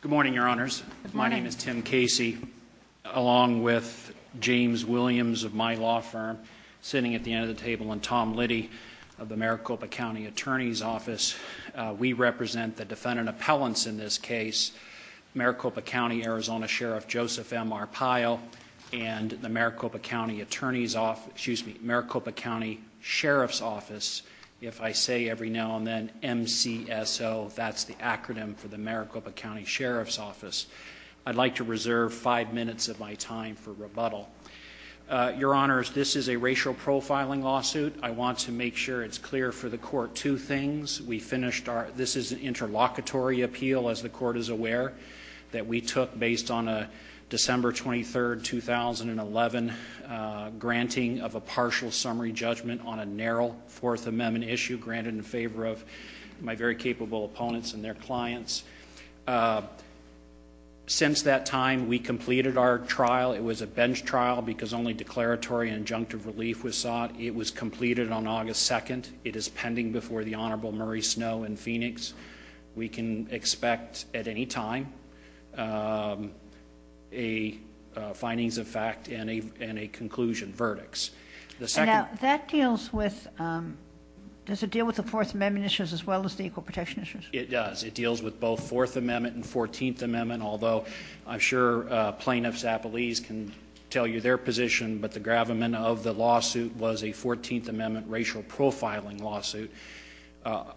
Good morning, Your Honors. My name is Tim Casey. Along with James Williams of my law firm, sitting at the end of the table, and Tom Liddy of the Maricopa County Attorney's Office, we represent the defendant appellants in this case, Maricopa County Arizona Sheriff Joseph M. Arpaio and the Maricopa County Sheriff's Office, if I say every now and then, MCSO. That's the acronym for the Maricopa County Sheriff's Office. I'd like to reserve five minutes of my time for rebuttal. Your Honors, this is a racial profiling lawsuit. I want to make sure it's clear for the court two things. This is an interlocutory appeal, as the court is aware, that we took based on a December 23, 2011, granting of a partial summary judgment on a narrow Fourth Amendment issue granted in favor of my very capable opponents and their clients. Since that time, we completed our trial. It was a bench trial because only declaratory and injunctive relief was sought. It was completed on August 2nd. It is pending before the Honorable Murray Snow in Phoenix. We can expect at any time a findings of fact and a conclusion verdict. Now, that deals with, does it deal with the Fourth Amendment issues as well as the equal protection issues? It does. It deals with both Fourth Amendment and Fourteenth Amendment, although I'm sure plaintiffs' appellees can tell you their position, but the gravamen of the lawsuit was a Fourteenth Amendment racial profiling lawsuit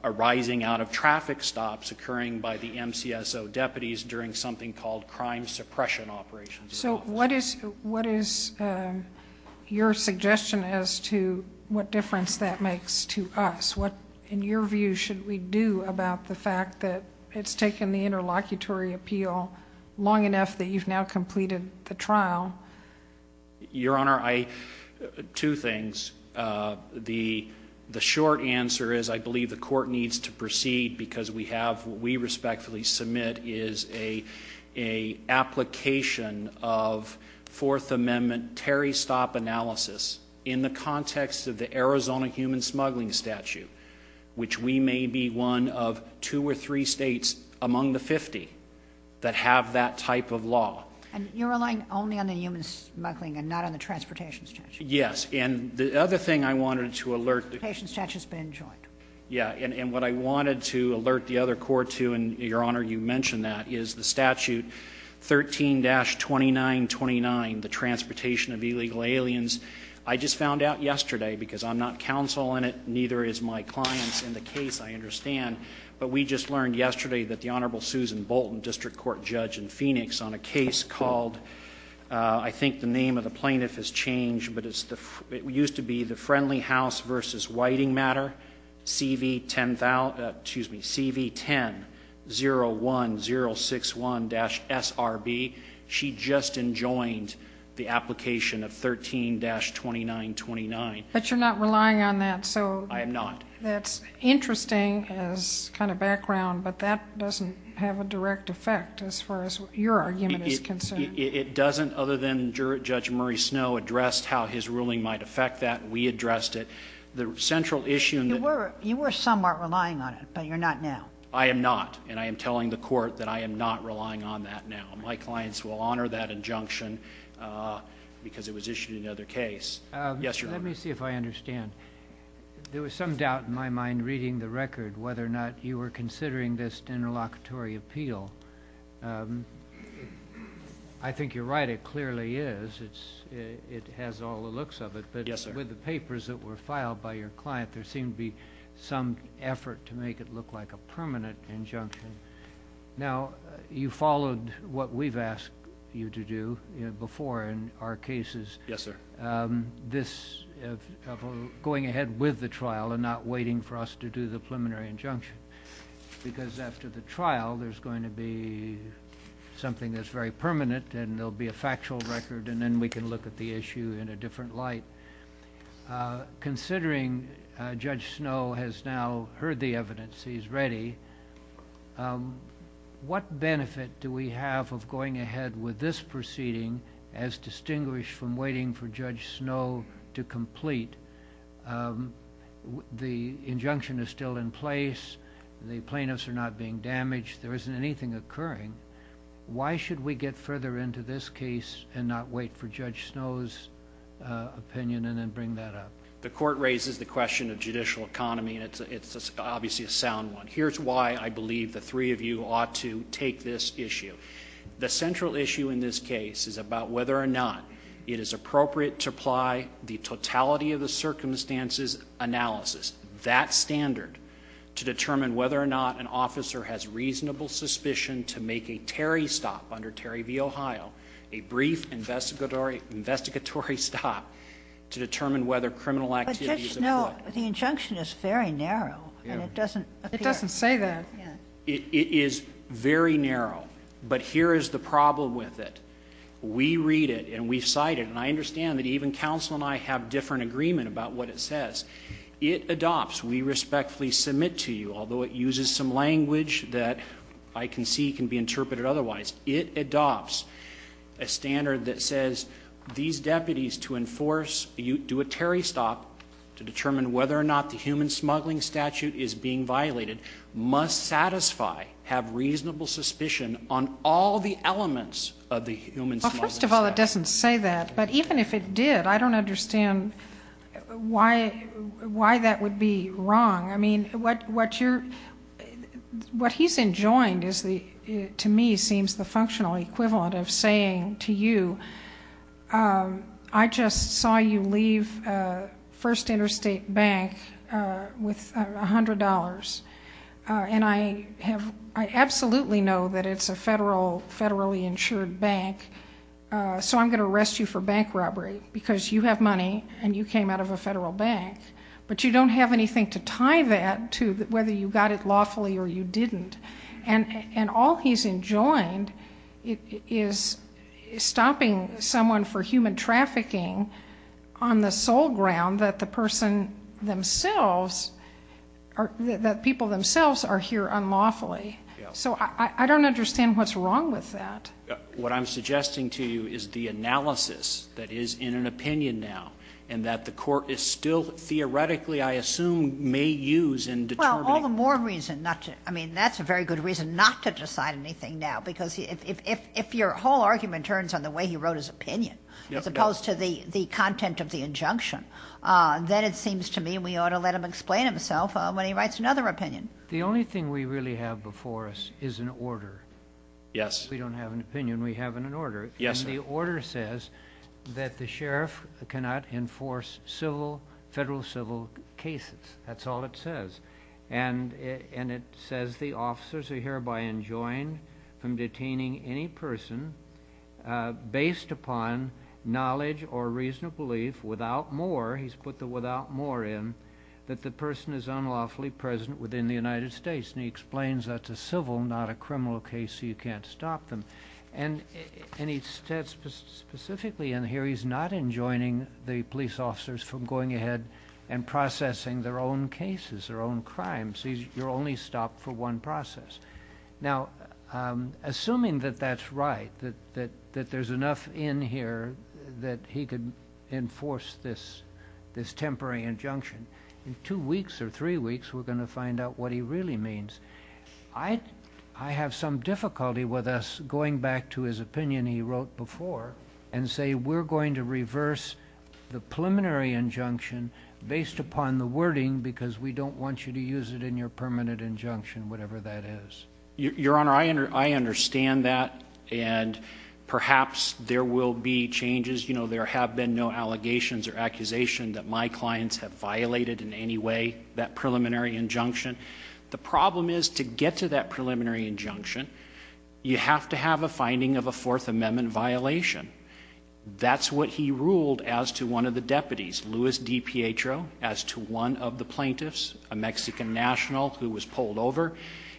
arising out of traffic stops occurring by the MCSO deputies during something called crime suppression operations. So what is your suggestion as to what difference that makes to us? What, in your view, should we do about the fact that it's taken the interlocutory appeal long enough that you've now completed the trial? Your Honor, two things. The short answer is I believe the court needs to proceed because we have, what we respectfully submit is an application of Fourth Amendment terry stop analysis in the context of the Arizona human smuggling statute, which we may be one of two or three states among the 50 that have that type of law. And you're relying only on the human smuggling and not on the transportation statute? Yes. And the other thing I wanted to alert... The transportation statute's been joined. Yes. And what I wanted to alert the other court to, and, Your Honor, you mentioned that, is the statute 13-2929, the transportation of illegal aliens. I just found out yesterday, because I'm not counsel in it, neither is my client in the case, I understand, but we just learned yesterday that the Honorable Susan Bolton, district court judge in Phoenix, on a case called, I think the name of the plaintiff has changed, but it used to be the Friendly House v. Whiting matter, CV10-01061-SRB. She just enjoined the application of 13-2929. But you're not relying on that, so... I am not. That's interesting as kind of background, but that doesn't have a direct effect as far as your argument is concerned. It doesn't, other than Judge Murray Snow addressed how his ruling might affect that. We addressed it. The central issue... You were somewhat relying on it, but you're not now. I am not, and I am telling the court that I am not relying on that now. My clients will honor that injunction because it was issued in another case. Yes, Your Honor. Let me see if I understand. There was some doubt in my mind reading the record whether or not you were considering this interlocutory appeal. I think you're right. It clearly is. It has all the looks of it. Yes, sir. But with the papers that were filed by your client, there seemed to be some effort to make it look like a permanent injunction. Now, you followed what we've asked you to do before in our cases. Yes, sir. This going ahead with the trial and not waiting for us to do the preliminary injunction because after the trial, there's going to be something that's very permanent, and there'll be a factual record, and then we can look at the issue in a different light. Considering Judge Snow has now heard the evidence, he's ready, what benefit do we have of going ahead with this proceeding as distinguished from waiting for Judge Snow to complete? The injunction is still in place. The plaintiffs are not being damaged. There isn't anything occurring. Why should we get further into this case and not wait for Judge Snow's opinion and then bring that up? The court raises the question of judicial economy, and it's obviously a sound one. Here's why I believe the three of you ought to take this issue. The central issue in this case is about whether or not it is appropriate to apply the totality of the circumstances analysis, that standard, to determine whether or not an officer has reasonable suspicion to make a Terry stop under Terry v. Ohio, a brief investigatory stop to determine whether criminal activity is employed. But Judge Snow, the injunction is very narrow, and it doesn't appear. It doesn't say that. It is very narrow. But here is the problem with it. We read it and we cite it, and I understand that even counsel and I have different agreement about what it says. It adopts, we respectfully submit to you, although it uses some language that I can see can be interpreted otherwise, it adopts a standard that says these deputies to enforce, do a Terry stop to determine whether or not the human smuggling statute is being violated, must satisfy, have reasonable suspicion on all the elements of the human smuggling statute. Well, first of all, it doesn't say that. But even if it did, I don't understand why that would be wrong. I mean, what you're, what he's enjoined to me seems the functional equivalent of saying to you, I just saw you leave First Interstate Bank with $100, and I have, I absolutely know that it's a federally insured bank, so I'm going to arrest you for bank robbery, because you have money and you came out of a federal bank. But you don't have anything to tie that to whether you got it lawfully or you didn't. And all he's enjoined is stopping someone for human trafficking on the sole ground that the person themselves, that people themselves are here unlawfully. So I don't understand what's wrong with that. What I'm suggesting to you is the analysis that is in an opinion now, and that the court is still theoretically, I assume, may use in determining. All the more reason not to, I mean, that's a very good reason not to decide anything now, because if your whole argument turns on the way he wrote his opinion, as opposed to the content of the injunction, then it seems to me we ought to let him explain himself when he writes another opinion. The only thing we really have before us is an order. Yes. We don't have an opinion, we have an order. Yes, sir. And the order says that the sheriff cannot enforce civil, federal civil cases. That's all it says. And it says the officers are hereby enjoined from detaining any person based upon knowledge or reasonable belief without more, he's put the without more in, that the person is unlawfully present within the United States. And he explains that's a civil, not a criminal case, so you can't stop them. And he says specifically in here he's not enjoining the police officers from going ahead and processing their own cases, their own crimes. You're only stopped for one process. Now, assuming that that's right, that there's enough in here that he can enforce this temporary injunction, in two weeks or three weeks we're going to find out what he really means. I have some difficulty with us going back to his opinion he wrote before and say we're going to reverse the preliminary injunction based upon the wording because we don't want you to use it in your permanent injunction, whatever that is. Your Honor, I understand that, and perhaps there will be changes. You know, there have been no allegations or accusation that my clients have violated in any way that preliminary injunction. The problem is to get to that preliminary injunction, you have to have a finding of a Fourth Amendment violation. That's what he ruled as to one of the deputies, Luis DiPietro, as to one of the plaintiffs, a Mexican national who was pulled over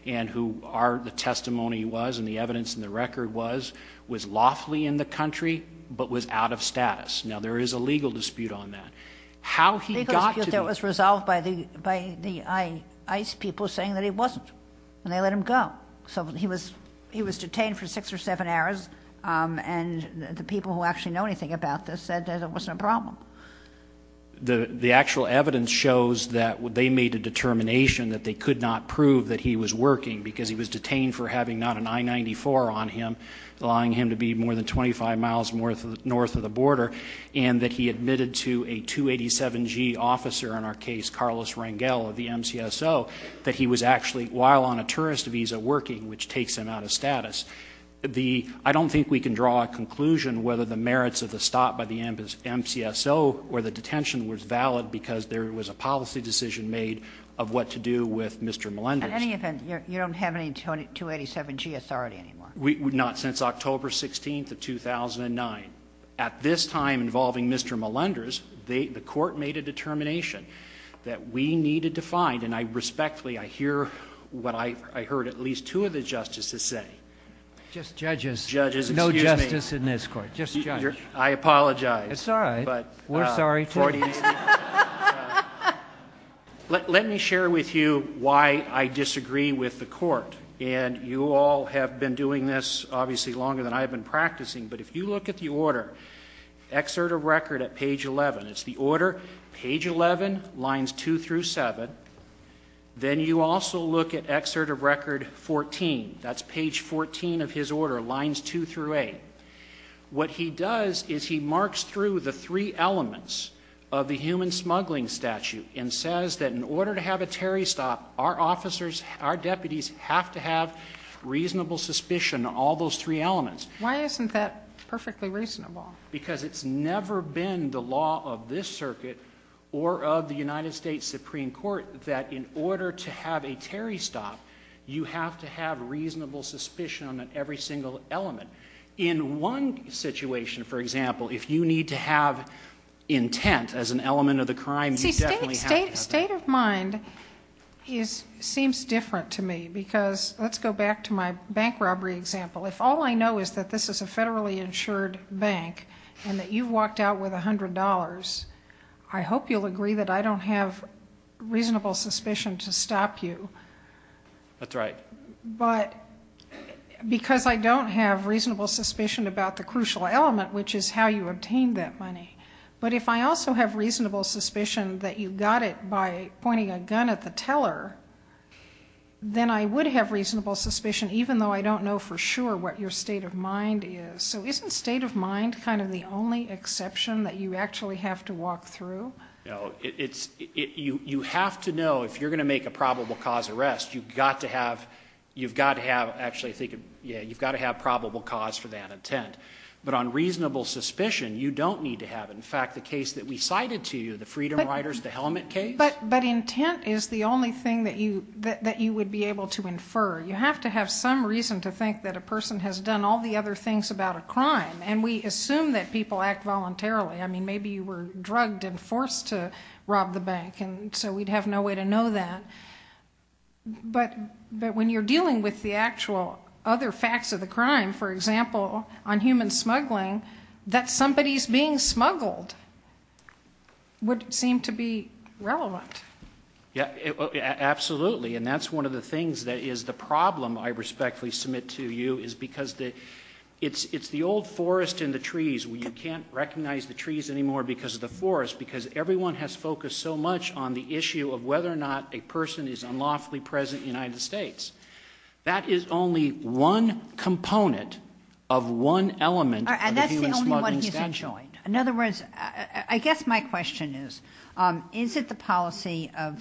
and who the testimony was and the evidence and the record was, was lawfully in the country but was out of status. Now, there is a legal dispute on that. How he got to the ---- people saying that he wasn't and they let him go. So he was detained for six or seven hours and the people who actually know anything about this said that it wasn't a problem. The actual evidence shows that they made a determination that they could not prove that he was working because he was detained for having not an I-94 on him, allowing him to be more than 25 miles north of the border, and that he admitted to a 287G officer, in our case, Carlos Rangel of the MCSO, that he was actually, while on a tourist visa, working, which takes him out of status. The ---- I don't think we can draw a conclusion whether the merits of the stop by the MCSO or the detention was valid because there was a policy decision made of what to do with Mr. Melendez. Kagan. You don't have any 287G authority anymore. Not since October 16th of 2009. At this time involving Mr. Melendez, the court made a determination that we needed to find, and I respectfully, I hear what I heard at least two of the justices say. Just judges. Judges, excuse me. No justice in this court. Just judge. I apologize. It's all right. We're sorry too. Let me share with you why I disagree with the court. And you all have been doing this obviously longer than I have been practicing, but if you look at the order, excerpt of record at page 11. It's the order, page 11, lines 2 through 7. Then you also look at excerpt of record 14. That's page 14 of his order, lines 2 through 8. What he does is he marks through the three elements of the human smuggling statute and says that in order to have a Terry stop, our officers, our deputies, have to have reasonable suspicion, all those three elements. Why isn't that perfectly reasonable? Because it's never been the law of this circuit or of the United States Supreme Court that in order to have a Terry stop, you have to have reasonable suspicion on every single element. In one situation, for example, if you need to have intent as an element of the crime, you definitely have to have it. See, state of mind seems different to me because let's go back to my bank robbery example. If all I know is that this is a federally insured bank and that you've walked out with $100, I hope you'll agree that I don't have reasonable suspicion to stop you. That's right. But because I don't have reasonable suspicion about the crucial element, which is how you obtained that money, but if I also have reasonable suspicion that you got it by pointing a gun at the teller, then I would have reasonable suspicion even though I don't know for sure what your state of mind is. So isn't state of mind kind of the only exception that you actually have to walk through? No. You have to know if you're going to make a probable cause arrest, you've got to have, actually, you've got to have probable cause for that intent. But on reasonable suspicion, you don't need to have it. In fact, the case that we cited to you, the Freedom Riders, the helmet case? But intent is the only thing that you would be able to infer. You have to have some reason to think that a person has done all the other things about a crime, and we assume that people act voluntarily. I mean, maybe you were drugged and forced to rob the bank, and so we'd have no way to know that. But when you're dealing with the actual other facts of the crime, for example, on human smuggling, that somebody's being smuggled would seem to be relevant. Absolutely. And that's one of the things that is the problem, I respectfully submit to you, is because it's the old forest and the trees where you can't recognize the trees anymore because of the forest because everyone has focused so much on the issue of whether or not a person is unlawfully present in the United States. That is only one component of one element of the human smuggling statute. And that's the only one he's adjoined. In other words, I guess my question is, is it the policy of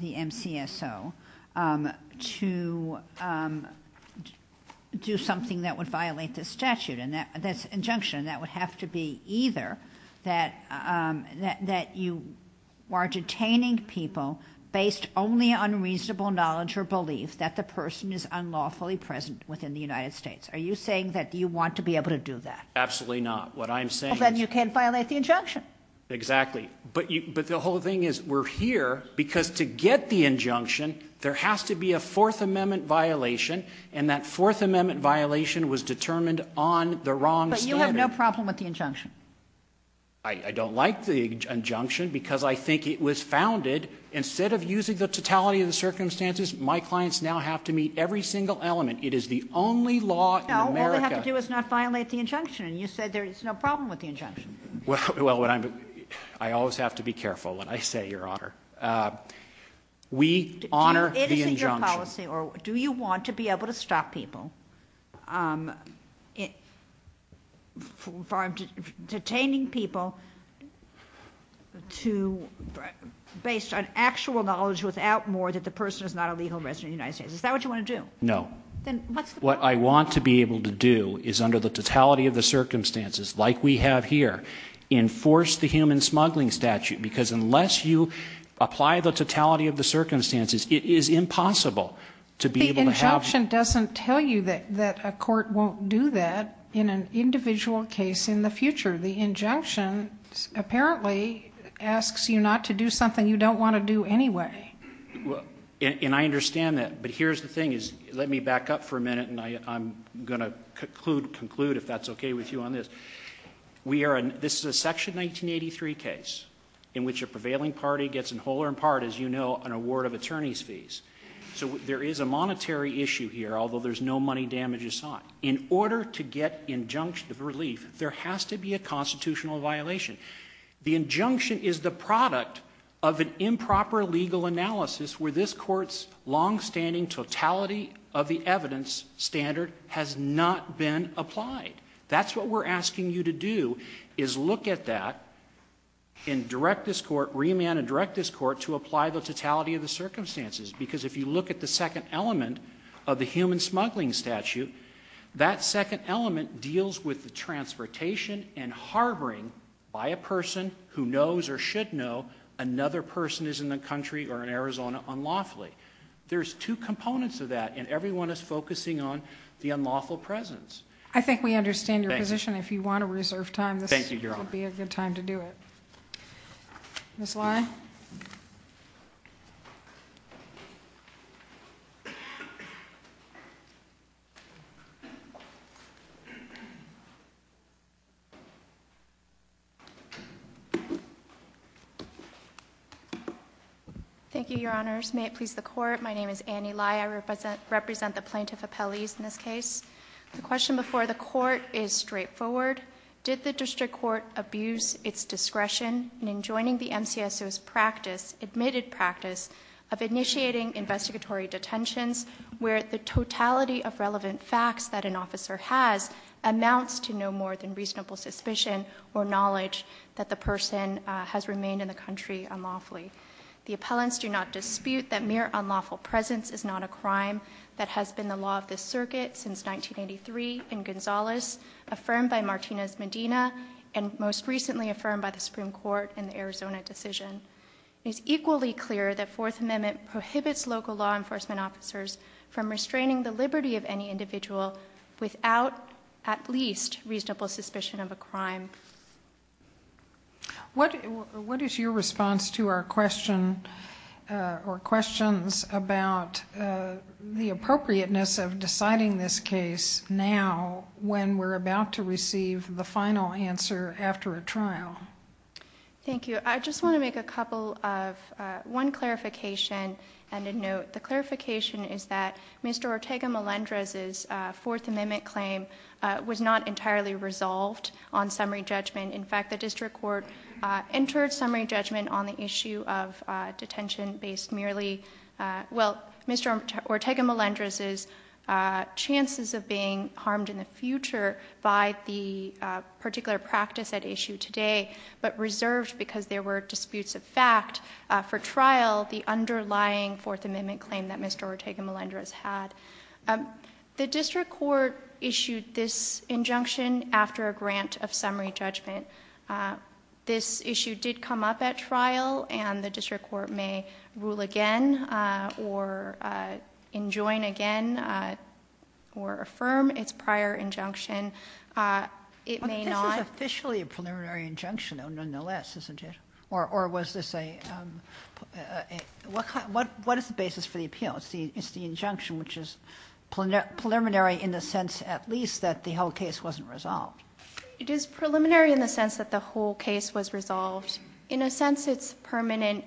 the MCSO to do something that would violate this injunction? That would have to be either that you are detaining people based only on reasonable knowledge or belief that the person is unlawfully present within the United States. Are you saying that you want to be able to do that? Absolutely not. What I'm saying is— Well, then you can't violate the injunction. Exactly. But the whole thing is we're here because to get the injunction, there has to be a Fourth Amendment violation, and that Fourth Amendment violation was determined on the wrong standard. But you have no problem with the injunction. I don't like the injunction because I think it was founded, instead of using the totality of the circumstances, my clients now have to meet every single element. It is the only law in America— No, all they have to do is not violate the injunction, and you said there is no problem with the injunction. Well, I always have to be careful what I say, Your Honor. We honor the injunction. Or do you want to be able to stop people from detaining people based on actual knowledge without more that the person is not a legal resident in the United States? Is that what you want to do? No. Then what's the point? What I want to be able to do is under the totality of the circumstances, like we have here, enforce the human smuggling statute, because unless you apply the totality of the circumstances, it is impossible to be able to have— The injunction doesn't tell you that a court won't do that in an individual case in the future. The injunction apparently asks you not to do something you don't want to do anyway. And I understand that. But here's the thing. Let me back up for a minute, and I'm going to conclude, if that's okay with you, on this. This is a Section 1983 case in which a prevailing party gets in whole or in part, as you know, an award of attorney's fees. So there is a monetary issue here, although there's no money damage assigned. In order to get injunction of relief, there has to be a constitutional violation. The injunction is the product of an improper legal analysis where this Court's longstanding totality of the evidence standard has not been applied. That's what we're asking you to do, is look at that and direct this Court, remand and direct this Court to apply the totality of the circumstances. Because if you look at the second element of the human smuggling statute, that second element deals with the transportation and harboring by a person who knows or should know another person is in the country or in Arizona unlawfully. There's two components of that, and everyone is focusing on the unlawful presence. I think we understand your position. Thank you. If you want to reserve time, this would be a good time to do it. Thank you, Your Honor. Ms. Lai? Thank you, Your Honors. May it please the Court, my name is Annie Lai. I represent the Plaintiff Appellees in this case. The question before the Court is straightforward. Did the district court abuse its discretion in enjoining the MCSO's practice, admitted practice, of initiating investigatory detentions where the totality of relevant facts that an officer has amounts to no more than reasonable suspicion or knowledge that the person has remained in the country unlawfully? The appellants do not dispute that mere unlawful presence is not a crime. That has been the law of this circuit since 1983 in Gonzales, affirmed by Martinez-Medina, and most recently affirmed by the Supreme Court in the Arizona decision. It is equally clear that Fourth Amendment prohibits local law enforcement officers from restraining the liberty of any individual without at least reasonable suspicion of a crime. What is your response to our question or questions about the appropriateness of deciding this case now when we're about to receive the final answer after a trial? Thank you. I just want to make a couple of one clarification and a note. The clarification is that Mr. Ortega Melendrez's Fourth Amendment claim was not entirely resolved on summary judgment. In fact, the district court entered summary judgment on the issue of detention based merely, well, Mr. Ortega Melendrez's chances of being harmed in the future by the particular practice at issue today, but reserved because there were disputes of fact for trial, the underlying Fourth Amendment claim that Mr. Ortega Melendrez had. The district court issued this injunction after a grant of summary judgment. This issue did come up at trial, and the district court may rule again or enjoin again or affirm its prior injunction. It may not ---- But this is officially a preliminary injunction, nonetheless, isn't it? Or was this a ---- What is the basis for the appeal? It's the injunction which is preliminary in the sense at least that the whole case wasn't resolved. It is preliminary in the sense that the whole case was resolved. In a sense, it's permanent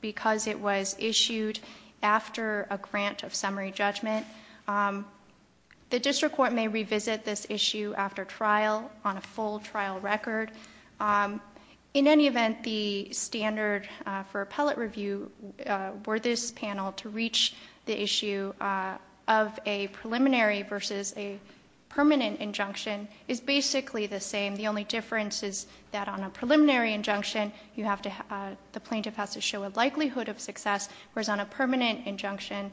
because it was issued after a grant of summary judgment. The district court may revisit this issue after trial on a full trial record. In any event, the standard for appellate review were this panel to reach the issue of a preliminary versus a permanent injunction is basically the same. The only difference is that on a preliminary injunction, you have to ---- the plaintiff has to show a likelihood of success, whereas on a permanent injunction,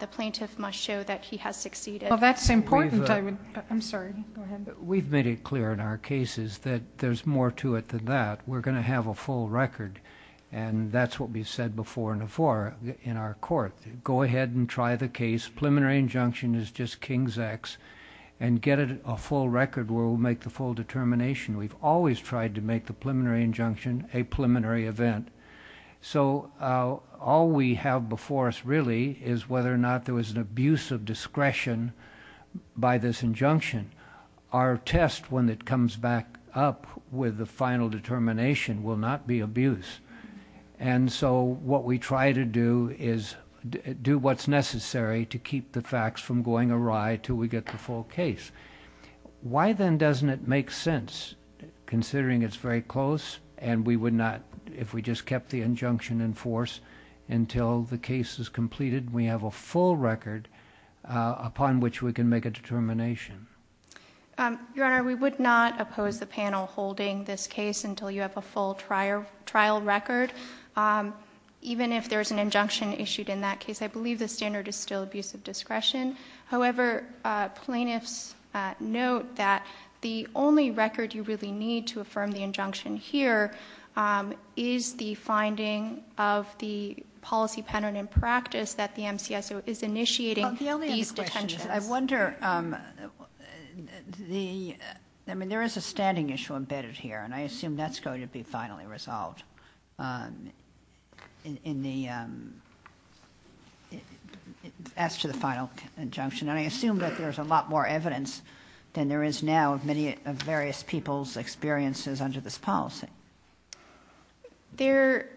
the plaintiff must show that he has succeeded. Well, that's important. I'm sorry. Go ahead. We've made it clear in our cases that there's more to it than that. We're going to have a full record, and that's what we've said before and before in our court. Go ahead and try the case. Preliminary injunction is just King's X. And get a full record where we'll make the full determination. We've always tried to make the preliminary injunction a preliminary event. So all we have before us really is whether or not there was an abuse of discretion by this injunction. Our test, when it comes back up with the final determination, will not be abuse. And so what we try to do is do what's necessary to keep the facts from going awry until we get the full case. Why then doesn't it make sense, considering it's very close and we would not, if we just kept the injunction in force until the case is completed, and we have a full record upon which we can make a determination? Your Honor, we would not oppose the panel holding this case until you have a full trial record, even if there's an injunction issued in that case. I believe the standard is still abuse of discretion. However, plaintiffs note that the only record you really need to affirm the initiating these detentions. I wonder, I mean, there is a standing issue embedded here, and I assume that's going to be finally resolved in the, as to the final injunction. And I assume that there's a lot more evidence than there is now of various people's experiences under this policy. There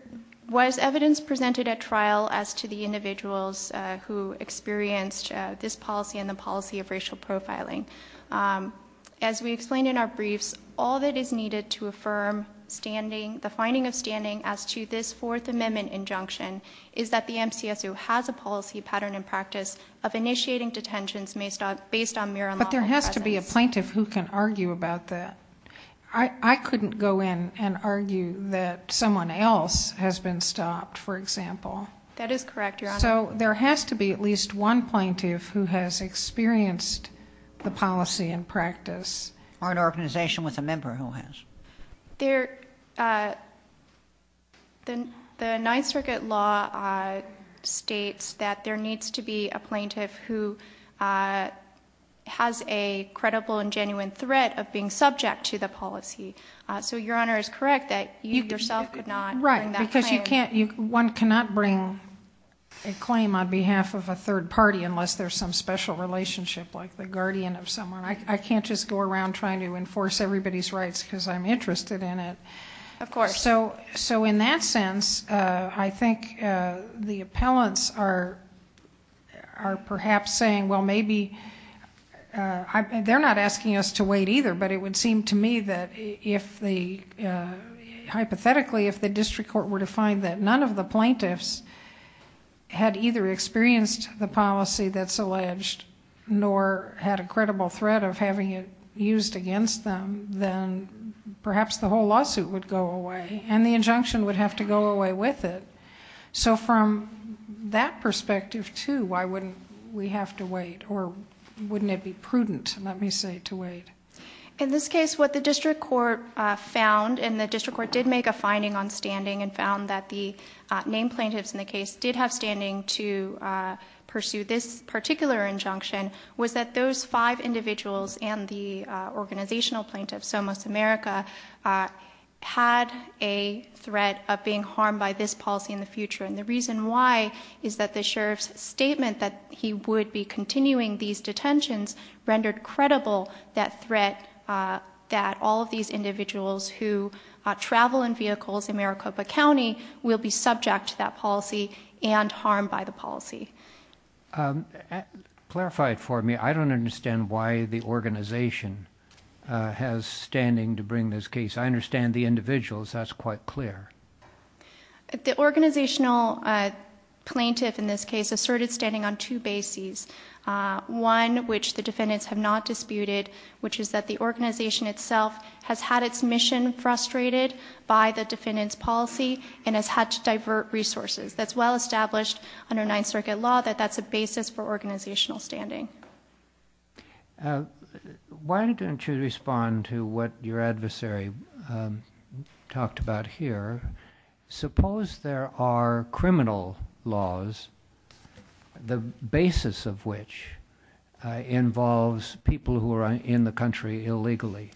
was evidence presented at trial as to the individuals who experienced this policy and the policy of racial profiling. As we explained in our briefs, all that is needed to affirm standing, the finding of standing as to this Fourth Amendment injunction, is that the MCSO has a policy pattern and practice of initiating detentions based on mere lawful presence. But there has to be a plaintiff who can argue about that. I couldn't go in and argue that someone else has been stopped, for example. That is correct, Your Honor. So there has to be at least one plaintiff who has experienced the policy and practice. Or an organization with a member who has. The Ninth Circuit law states that there needs to be a plaintiff who has a claim to the policy. So, Your Honor, it's correct that you yourself could not bring that claim. Right, because one cannot bring a claim on behalf of a third party unless there's some special relationship like the guardian of someone. I can't just go around trying to enforce everybody's rights because I'm interested in it. Of course. So in that sense, I think the appellants are perhaps saying, well maybe... they're not asking us to wait either, but it would seem to me that if the... hypothetically, if the district court were to find that none of the plaintiffs had either experienced the policy that's alleged nor had a credible threat of having it used against them, then perhaps the whole lawsuit would go away and the injunction would have to go away with it. So from that perspective, too, why wouldn't we have to wait? Or wouldn't it be prudent, let me say, to wait? In this case, what the district court found, and the district court did make a finding on standing and found that the named plaintiffs in the case did have standing to pursue this particular injunction, was that those five individuals and the organizational plaintiffs, almost America, had a threat of being harmed by this policy in the future. And the reason why is that the sheriff's statement that he would be continuing these detentions rendered credible that threat that all of these individuals who travel in vehicles in Maricopa County will be subject to that policy and harmed by the policy. Clarify it for me. I don't understand why the organization has standing to bring this case. I understand the individuals. That's quite clear. The organizational plaintiff in this case asserted standing on two bases, one which the defendants have not disputed, which is that the organization itself has had its mission frustrated by the defendant's policy and has had to divert resources. That's well established under Ninth Circuit law that that's a basis for organizational standing. Why don't you respond to what your adversary talked about here? Suppose there are criminal laws, the basis of which involves people who are in the country illegally,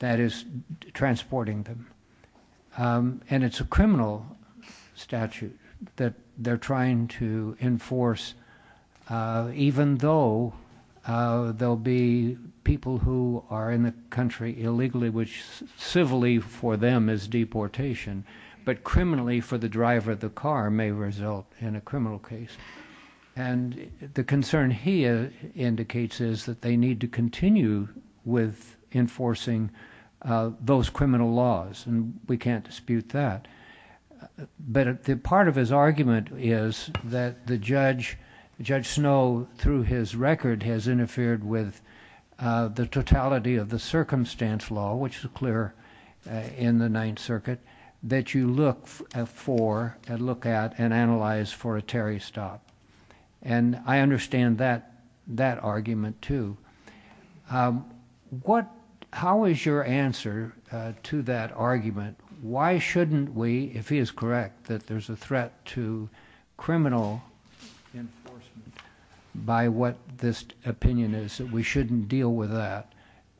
that is, transporting them. And it's a criminal statute that they're trying to enforce even though there will be people who are in the country illegally, which civilly for them is deportation, but criminally for the driver of the car may result in a criminal case. And the concern he indicates is that they need to continue with enforcing those criminal laws, and we can't dispute that. But part of his argument is that Judge Snow, through his record, has interfered with the totality of the circumstance law, which is clear in the Ninth Circuit, that you look at and analyze for a Terry stop. And I understand that argument, too. How is your answer to that argument? Why shouldn't we, if he is correct that there's a threat to criminal enforcement by what this opinion is, that we shouldn't deal with that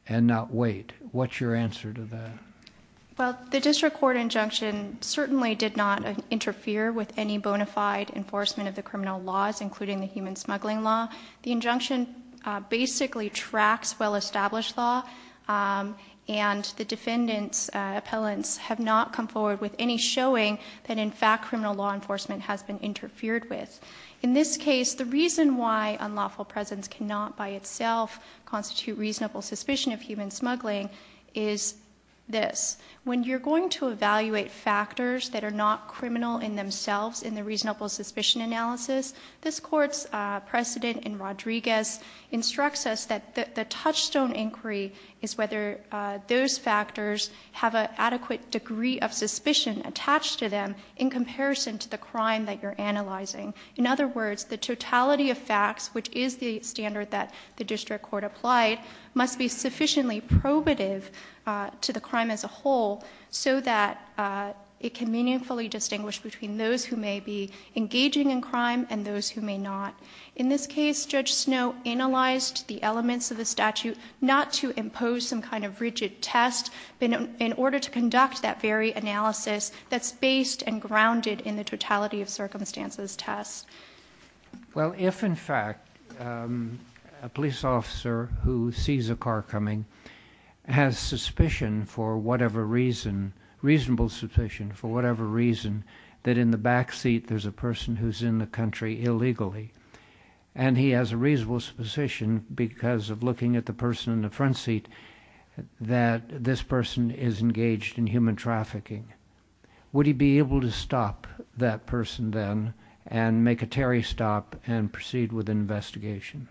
and not wait? What's your answer to that? Well, the district court injunction certainly did not interfere with any bona fide enforcement of the criminal laws, including the human smuggling law. The injunction basically tracks well-established law, and the defendant's appellants have not come forward with any showing that, in fact, criminal law enforcement has been interfered with. In this case, the reason why unlawful presence cannot by itself constitute reasonable suspicion of human smuggling is this. When you're going to evaluate factors that are not criminal in themselves in the Rodriguez, instructs us that the touchstone inquiry is whether those factors have an adequate degree of suspicion attached to them in comparison to the crime that you're analyzing. In other words, the totality of facts, which is the standard that the district court applied, must be sufficiently probative to the crime as a whole so that it can meaningfully distinguish between those who may be engaging in crime and those who may not. In this case, Judge Snow analyzed the elements of the statute not to impose some kind of rigid test, but in order to conduct that very analysis that's based and grounded in the totality of circumstances test. Well, if, in fact, a police officer who sees a car coming has suspicion for whatever reason, reasonable suspicion for whatever reason, that in the backseat there's a person who's in the country illegally. And he has a reasonable suspicion because of looking at the person in the front seat that this person is engaged in human trafficking. Would he be able to stop that person then and make a Terry stop and proceed with an investigation?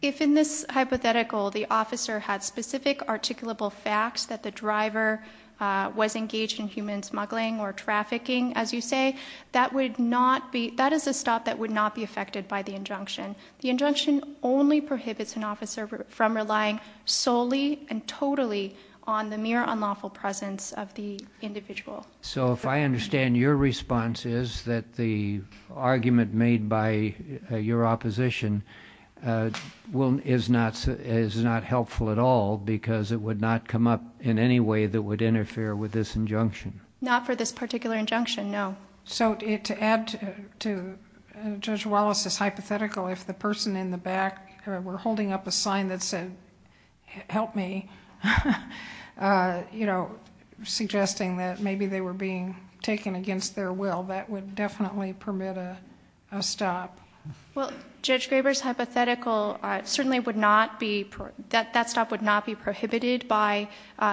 If in this hypothetical the officer had specific articulable facts that the driver was engaged in human smuggling or trafficking, as you say, that is a stop that would not be affected by the injunction. The injunction only prohibits an officer from relying solely and totally on the mere unlawful presence of the individual. So if I understand your response is that the argument made by your opposition is not helpful at all because it would not come up in any way that would interfere with this injunction? Not for this particular injunction, no. So to add to Judge Wallace's hypothetical, if the person in the back were holding up a sign that said, help me, you know, suggesting that maybe they were being taken against their will, that would definitely permit a stop. Well, Judge Graber's hypothetical certainly would not be, that stop would not be prohibited by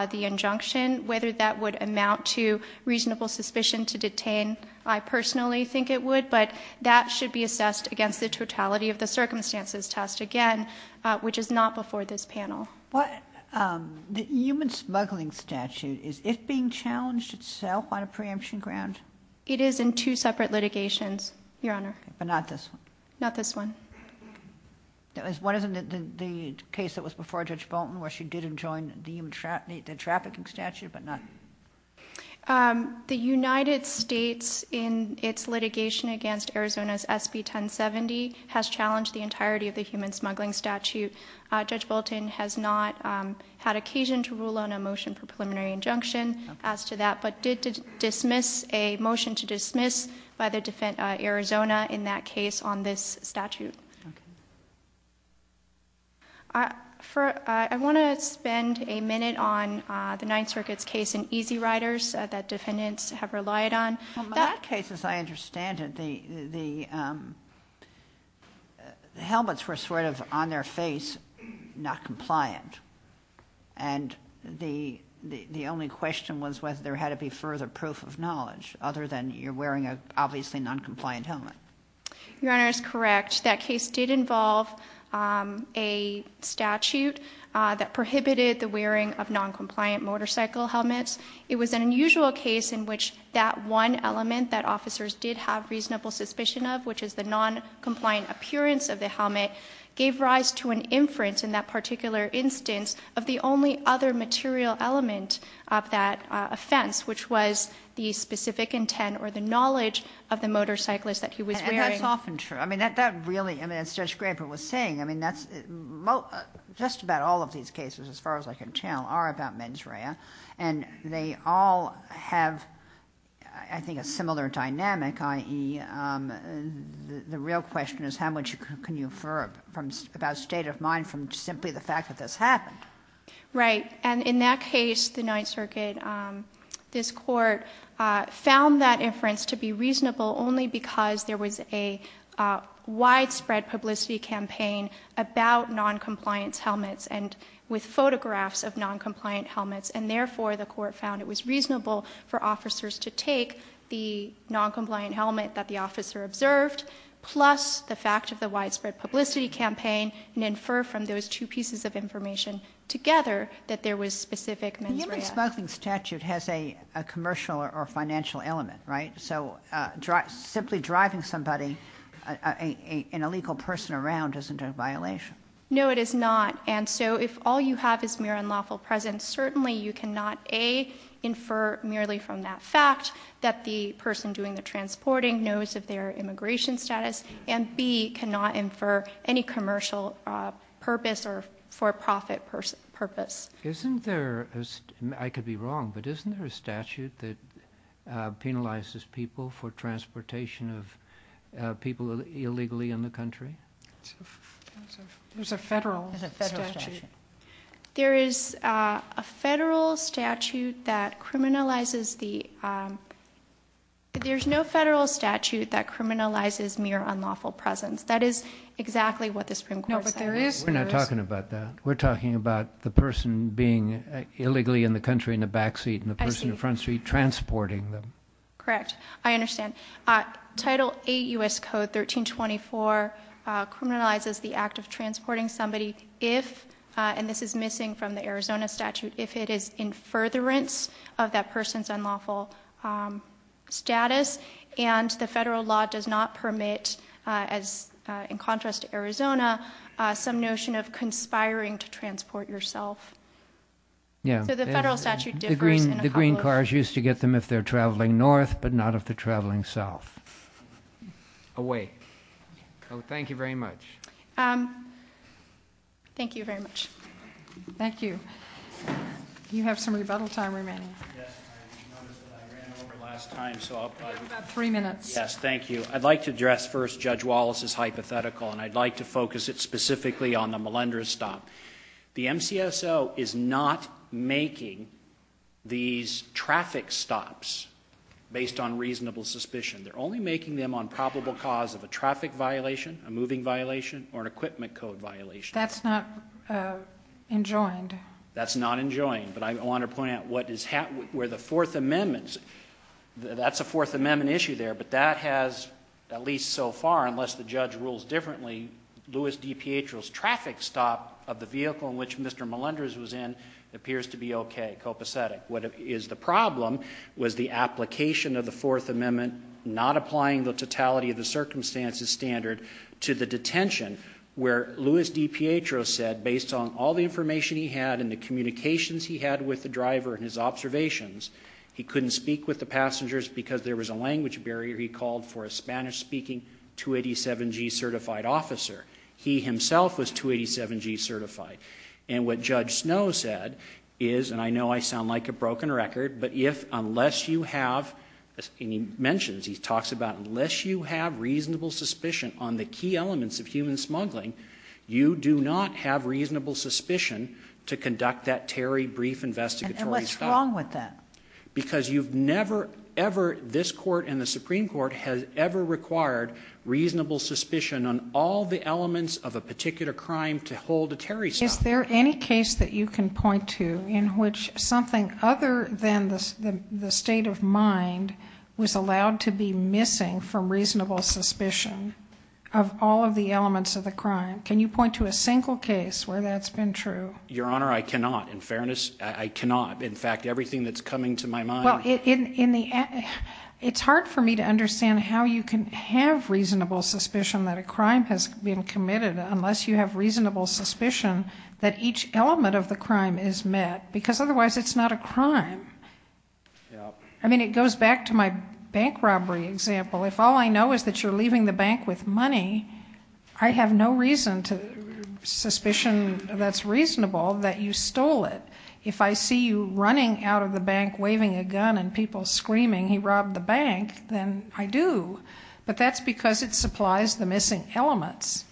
the injunction. Whether that would amount to reasonable suspicion to detain, I personally think it would, but that should be assessed against the totality of the circumstances test again, which is not before this panel. The human smuggling statute, is it being challenged itself on a preemption ground? It is in two separate litigations, Your Honor. But not this one? Not this one. What is the case that was before Judge Bolton where she didn't join the trafficking statute, but not? The United States in its litigation against Arizona's SB 1070 has challenged the entirety of the human smuggling statute. Judge Bolton has not had occasion to rule on a motion for preliminary injunction as to that, but did dismiss a motion to dismiss by the Arizona in that case on this statute. Okay. I want to spend a minute on the Ninth Circuit's case in Easy Riders that defendants have relied on. Well, my case, as I understand it, the helmets were sort of on their face, not compliant. And the only question was whether there had to be further proof of knowledge other than you're wearing an obviously noncompliant helmet. Your Honor is correct. That case did involve a statute that prohibited the wearing of noncompliant motorcycle helmets. It was an unusual case in which that one element that officers did have reasonable suspicion of, which is the noncompliant appearance of the helmet, gave rise to an instance of the only other material element of that offense, which was the specific intent or the knowledge of the motorcyclist that he was wearing. And that's often true. I mean, that really, as Judge Graber was saying, I mean, just about all of these cases, as far as I can tell, are about mens rea. And they all have, I think, a similar dynamic, i.e., the real question is how much can you infer about state of mind from simply the fact that this happened? Right. And in that case, the Ninth Circuit, this Court found that inference to be reasonable only because there was a widespread publicity campaign about noncompliant helmets and with photographs of noncompliant helmets. And therefore, the Court found it was reasonable for officers to take the noncompliant helmet that the officer observed plus the fact of the widespread publicity campaign and infer from those two pieces of information together that there was specific mens rea. The human smuggling statute has a commercial or financial element, right? So simply driving somebody, an illegal person, around isn't a violation. No, it is not. And so if all you have is mere unlawful presence, certainly you cannot, A, infer merely from that fact that the person doing the transporting knows of their immigration status, and, B, cannot infer any commercial purpose or for-profit purpose. Isn't there, I could be wrong, but isn't there a statute that penalizes people for transportation of people illegally in the country? There's a federal statute. There is a federal statute that criminalizes the, there's no federal statute that criminalizes mere unlawful presence. That is exactly what the Supreme Court said. No, but there is. We're not talking about that. We're talking about the person being illegally in the country in the back seat and the person in the front seat transporting them. Correct. I understand. Title 8 U.S. Code 1324 criminalizes the act of transporting somebody if, and this is missing from the Arizona statute, if it is in furtherance of that person's unlawful status. And the federal law does not permit, in contrast to Arizona, some notion of conspiring to transport yourself. So the federal statute differs. The green cars used to get them if they're traveling north, but not if they're traveling south. Oh, wait. Oh, thank you very much. Thank you very much. Thank you. You have some rebuttal time remaining. Yes, I noticed that I ran over last time, so I'll probably. You have about three minutes. Yes, thank you. I'd like to address first Judge Wallace's hypothetical, and I'd like to focus it specifically on the Melendrez stop. The MCSO is not making these traffic stops based on reasonable suspicion. They're only making them on probable cause of a traffic violation, a moving violation, or an equipment code violation. That's not enjoined. That's not enjoined. But I want to point out where the Fourth Amendment is. That's a Fourth Amendment issue there, but that has, at least so far, unless the judge rules differently, that the Louis D. Pietro's traffic stop of the vehicle in which Mr. Melendrez was in appears to be okay, copacetic. What is the problem was the application of the Fourth Amendment, not applying the totality of the circumstances standard, to the detention where Louis D. Pietro said, based on all the information he had and the communications he had with the driver and his observations, he couldn't speak with the passengers because there was a language barrier. He called for a Spanish-speaking 287G certified officer. He himself was 287G certified. And what Judge Snow said is, and I know I sound like a broken record, but if unless you have, and he mentions, he talks about, unless you have reasonable suspicion on the key elements of human smuggling, you do not have reasonable suspicion to conduct that Terry brief investigatory stop. And what's wrong with that? Because you've never ever, this court and the Supreme Court has ever required reasonable suspicion on all the elements of a particular crime to hold a Terry stop. Is there any case that you can point to in which something other than the state of mind was allowed to be missing from reasonable suspicion of all of the elements of the crime? Can you point to a single case where that's been true? Your Honor, I cannot. In fairness, I cannot. In fact, everything that's coming to my mind. Well, it's hard for me to understand how you can have reasonable suspicion that a crime has been committed unless you have reasonable suspicion that each element of the crime is met because otherwise it's not a crime. I mean, it goes back to my bank robbery example. If all I know is that you're leaving the bank with money, I have no reason to suspicion that's reasonable that you stole it. If I see you running out of the bank waving a gun and people screaming, he robbed the bank, then I do. But that's because it supplies the missing elements.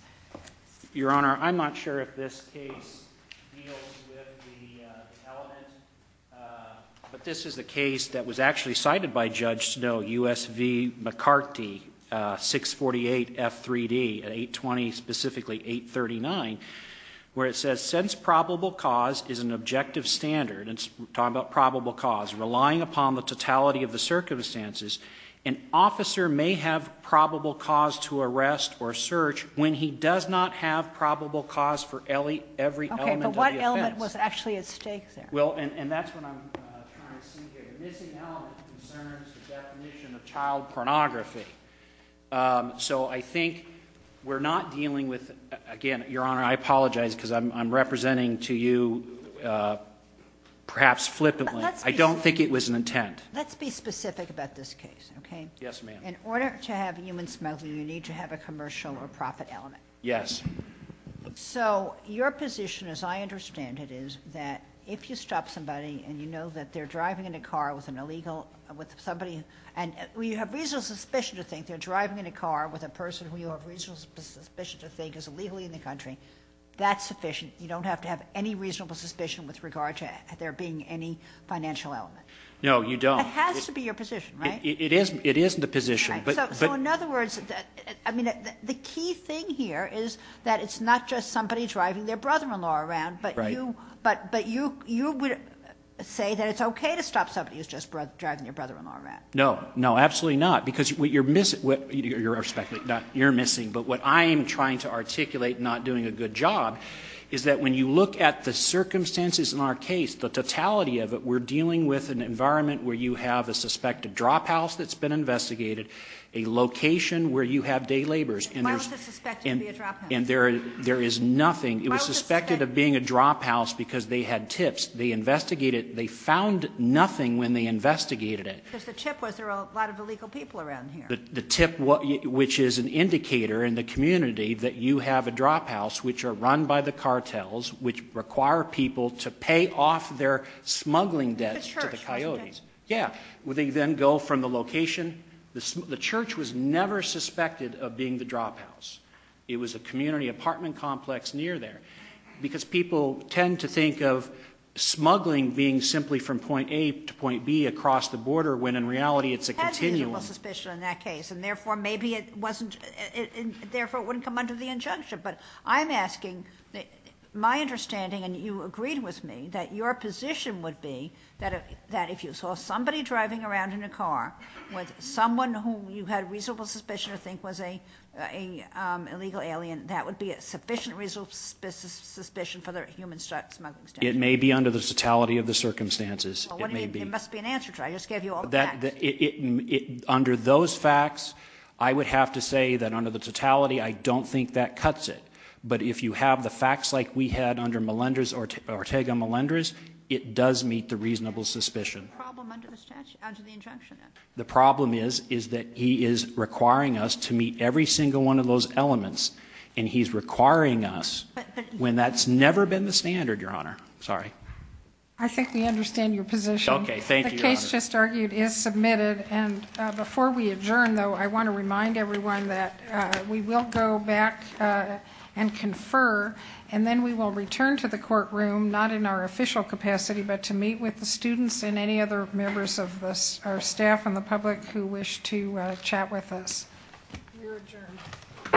Your Honor, I'm not sure if this case deals with the element, but this is a case that was actually cited by Judge Snow, USV McCarty, 648 F3D, 820, specifically 839, where it says, since probable cause is an objective standard, and it's talking about probable cause, relying upon the totality of the circumstances, an officer may have probable cause to arrest or search when he does not have probable cause for every element of the offense. Okay, but what element was actually at stake there? Well, and that's what I'm trying to see here. The missing element concerns the definition of child pornography. So I think we're not dealing with, again, Your Honor, I apologize because I'm representing to you perhaps flippantly. I don't think it was an intent. Let's be specific about this case, okay? Yes, ma'am. In order to have human smuggling, you need to have a commercial or profit element. Yes. So your position, as I understand it, is that if you stop somebody and you know that they're driving in a car with somebody and you have reasonable suspicion to think they're driving in a car with a person who you have reasonable suspicion to think is illegally in the country, that's sufficient. You don't have to have any reasonable suspicion with regard to there being any financial element. No, you don't. It has to be your position, right? It is the position. So in other words, I mean, the key thing here is that it's not just somebody driving their brother-in-law around, but you would say that it's okay to stop somebody who's just driving their brother-in-law around. No. No, absolutely not. Because what you're missing, you're speculating, you're missing, but what I am trying to articulate, not doing a good job, is that when you look at the circumstances in our case, the totality of it, we're dealing with an environment where you have a suspected drop house that's been investigated, a location where you have day labors. Why was it suspected to be a drop house? And there is nothing. It was suspected of being a drop house because they had tips. They investigated it. They found nothing when they investigated it. Because the tip was there are a lot of illegal people around here. The tip, which is an indicator in the community that you have a drop house, which are run by the cartels, which require people to pay off their smuggling debts to the coyotes. Yeah. They then go from the location. The church was never suspected of being the drop house. It was a community apartment complex near there. Because people tend to think of smuggling being simply from point A to point B across the border, when in reality it's a continuum. It had reasonable suspicion in that case, and therefore maybe it wasn't, therefore it wouldn't come under the injunction. But I'm asking, my understanding, and you agreed with me, that your position would be that if you saw somebody driving around in a car with someone who you had reasonable suspicion to think was an illegal alien, that would be a sufficient reasonable suspicion for the human smuggling station. It may be under the totality of the circumstances. It may be. That would be an answer to it. I just gave you all the facts. Under those facts, I would have to say that under the totality, I don't think that cuts it. But if you have the facts like we had under Ortega Melendrez, it does meet the reasonable suspicion. The problem under the injunction? The problem is that he is requiring us to meet every single one of those elements, and he's requiring us when that's never been the standard, Your Honor. Sorry. I think we understand your position. Okay. Thank you, Your Honor. The case just argued is submitted, and before we adjourn, though, I want to remind everyone that we will go back and confer, and then we will return to the courtroom, not in our official capacity, but to meet with the students and any other members of our staff and the public who wish to chat with us. We are adjourned. All rise.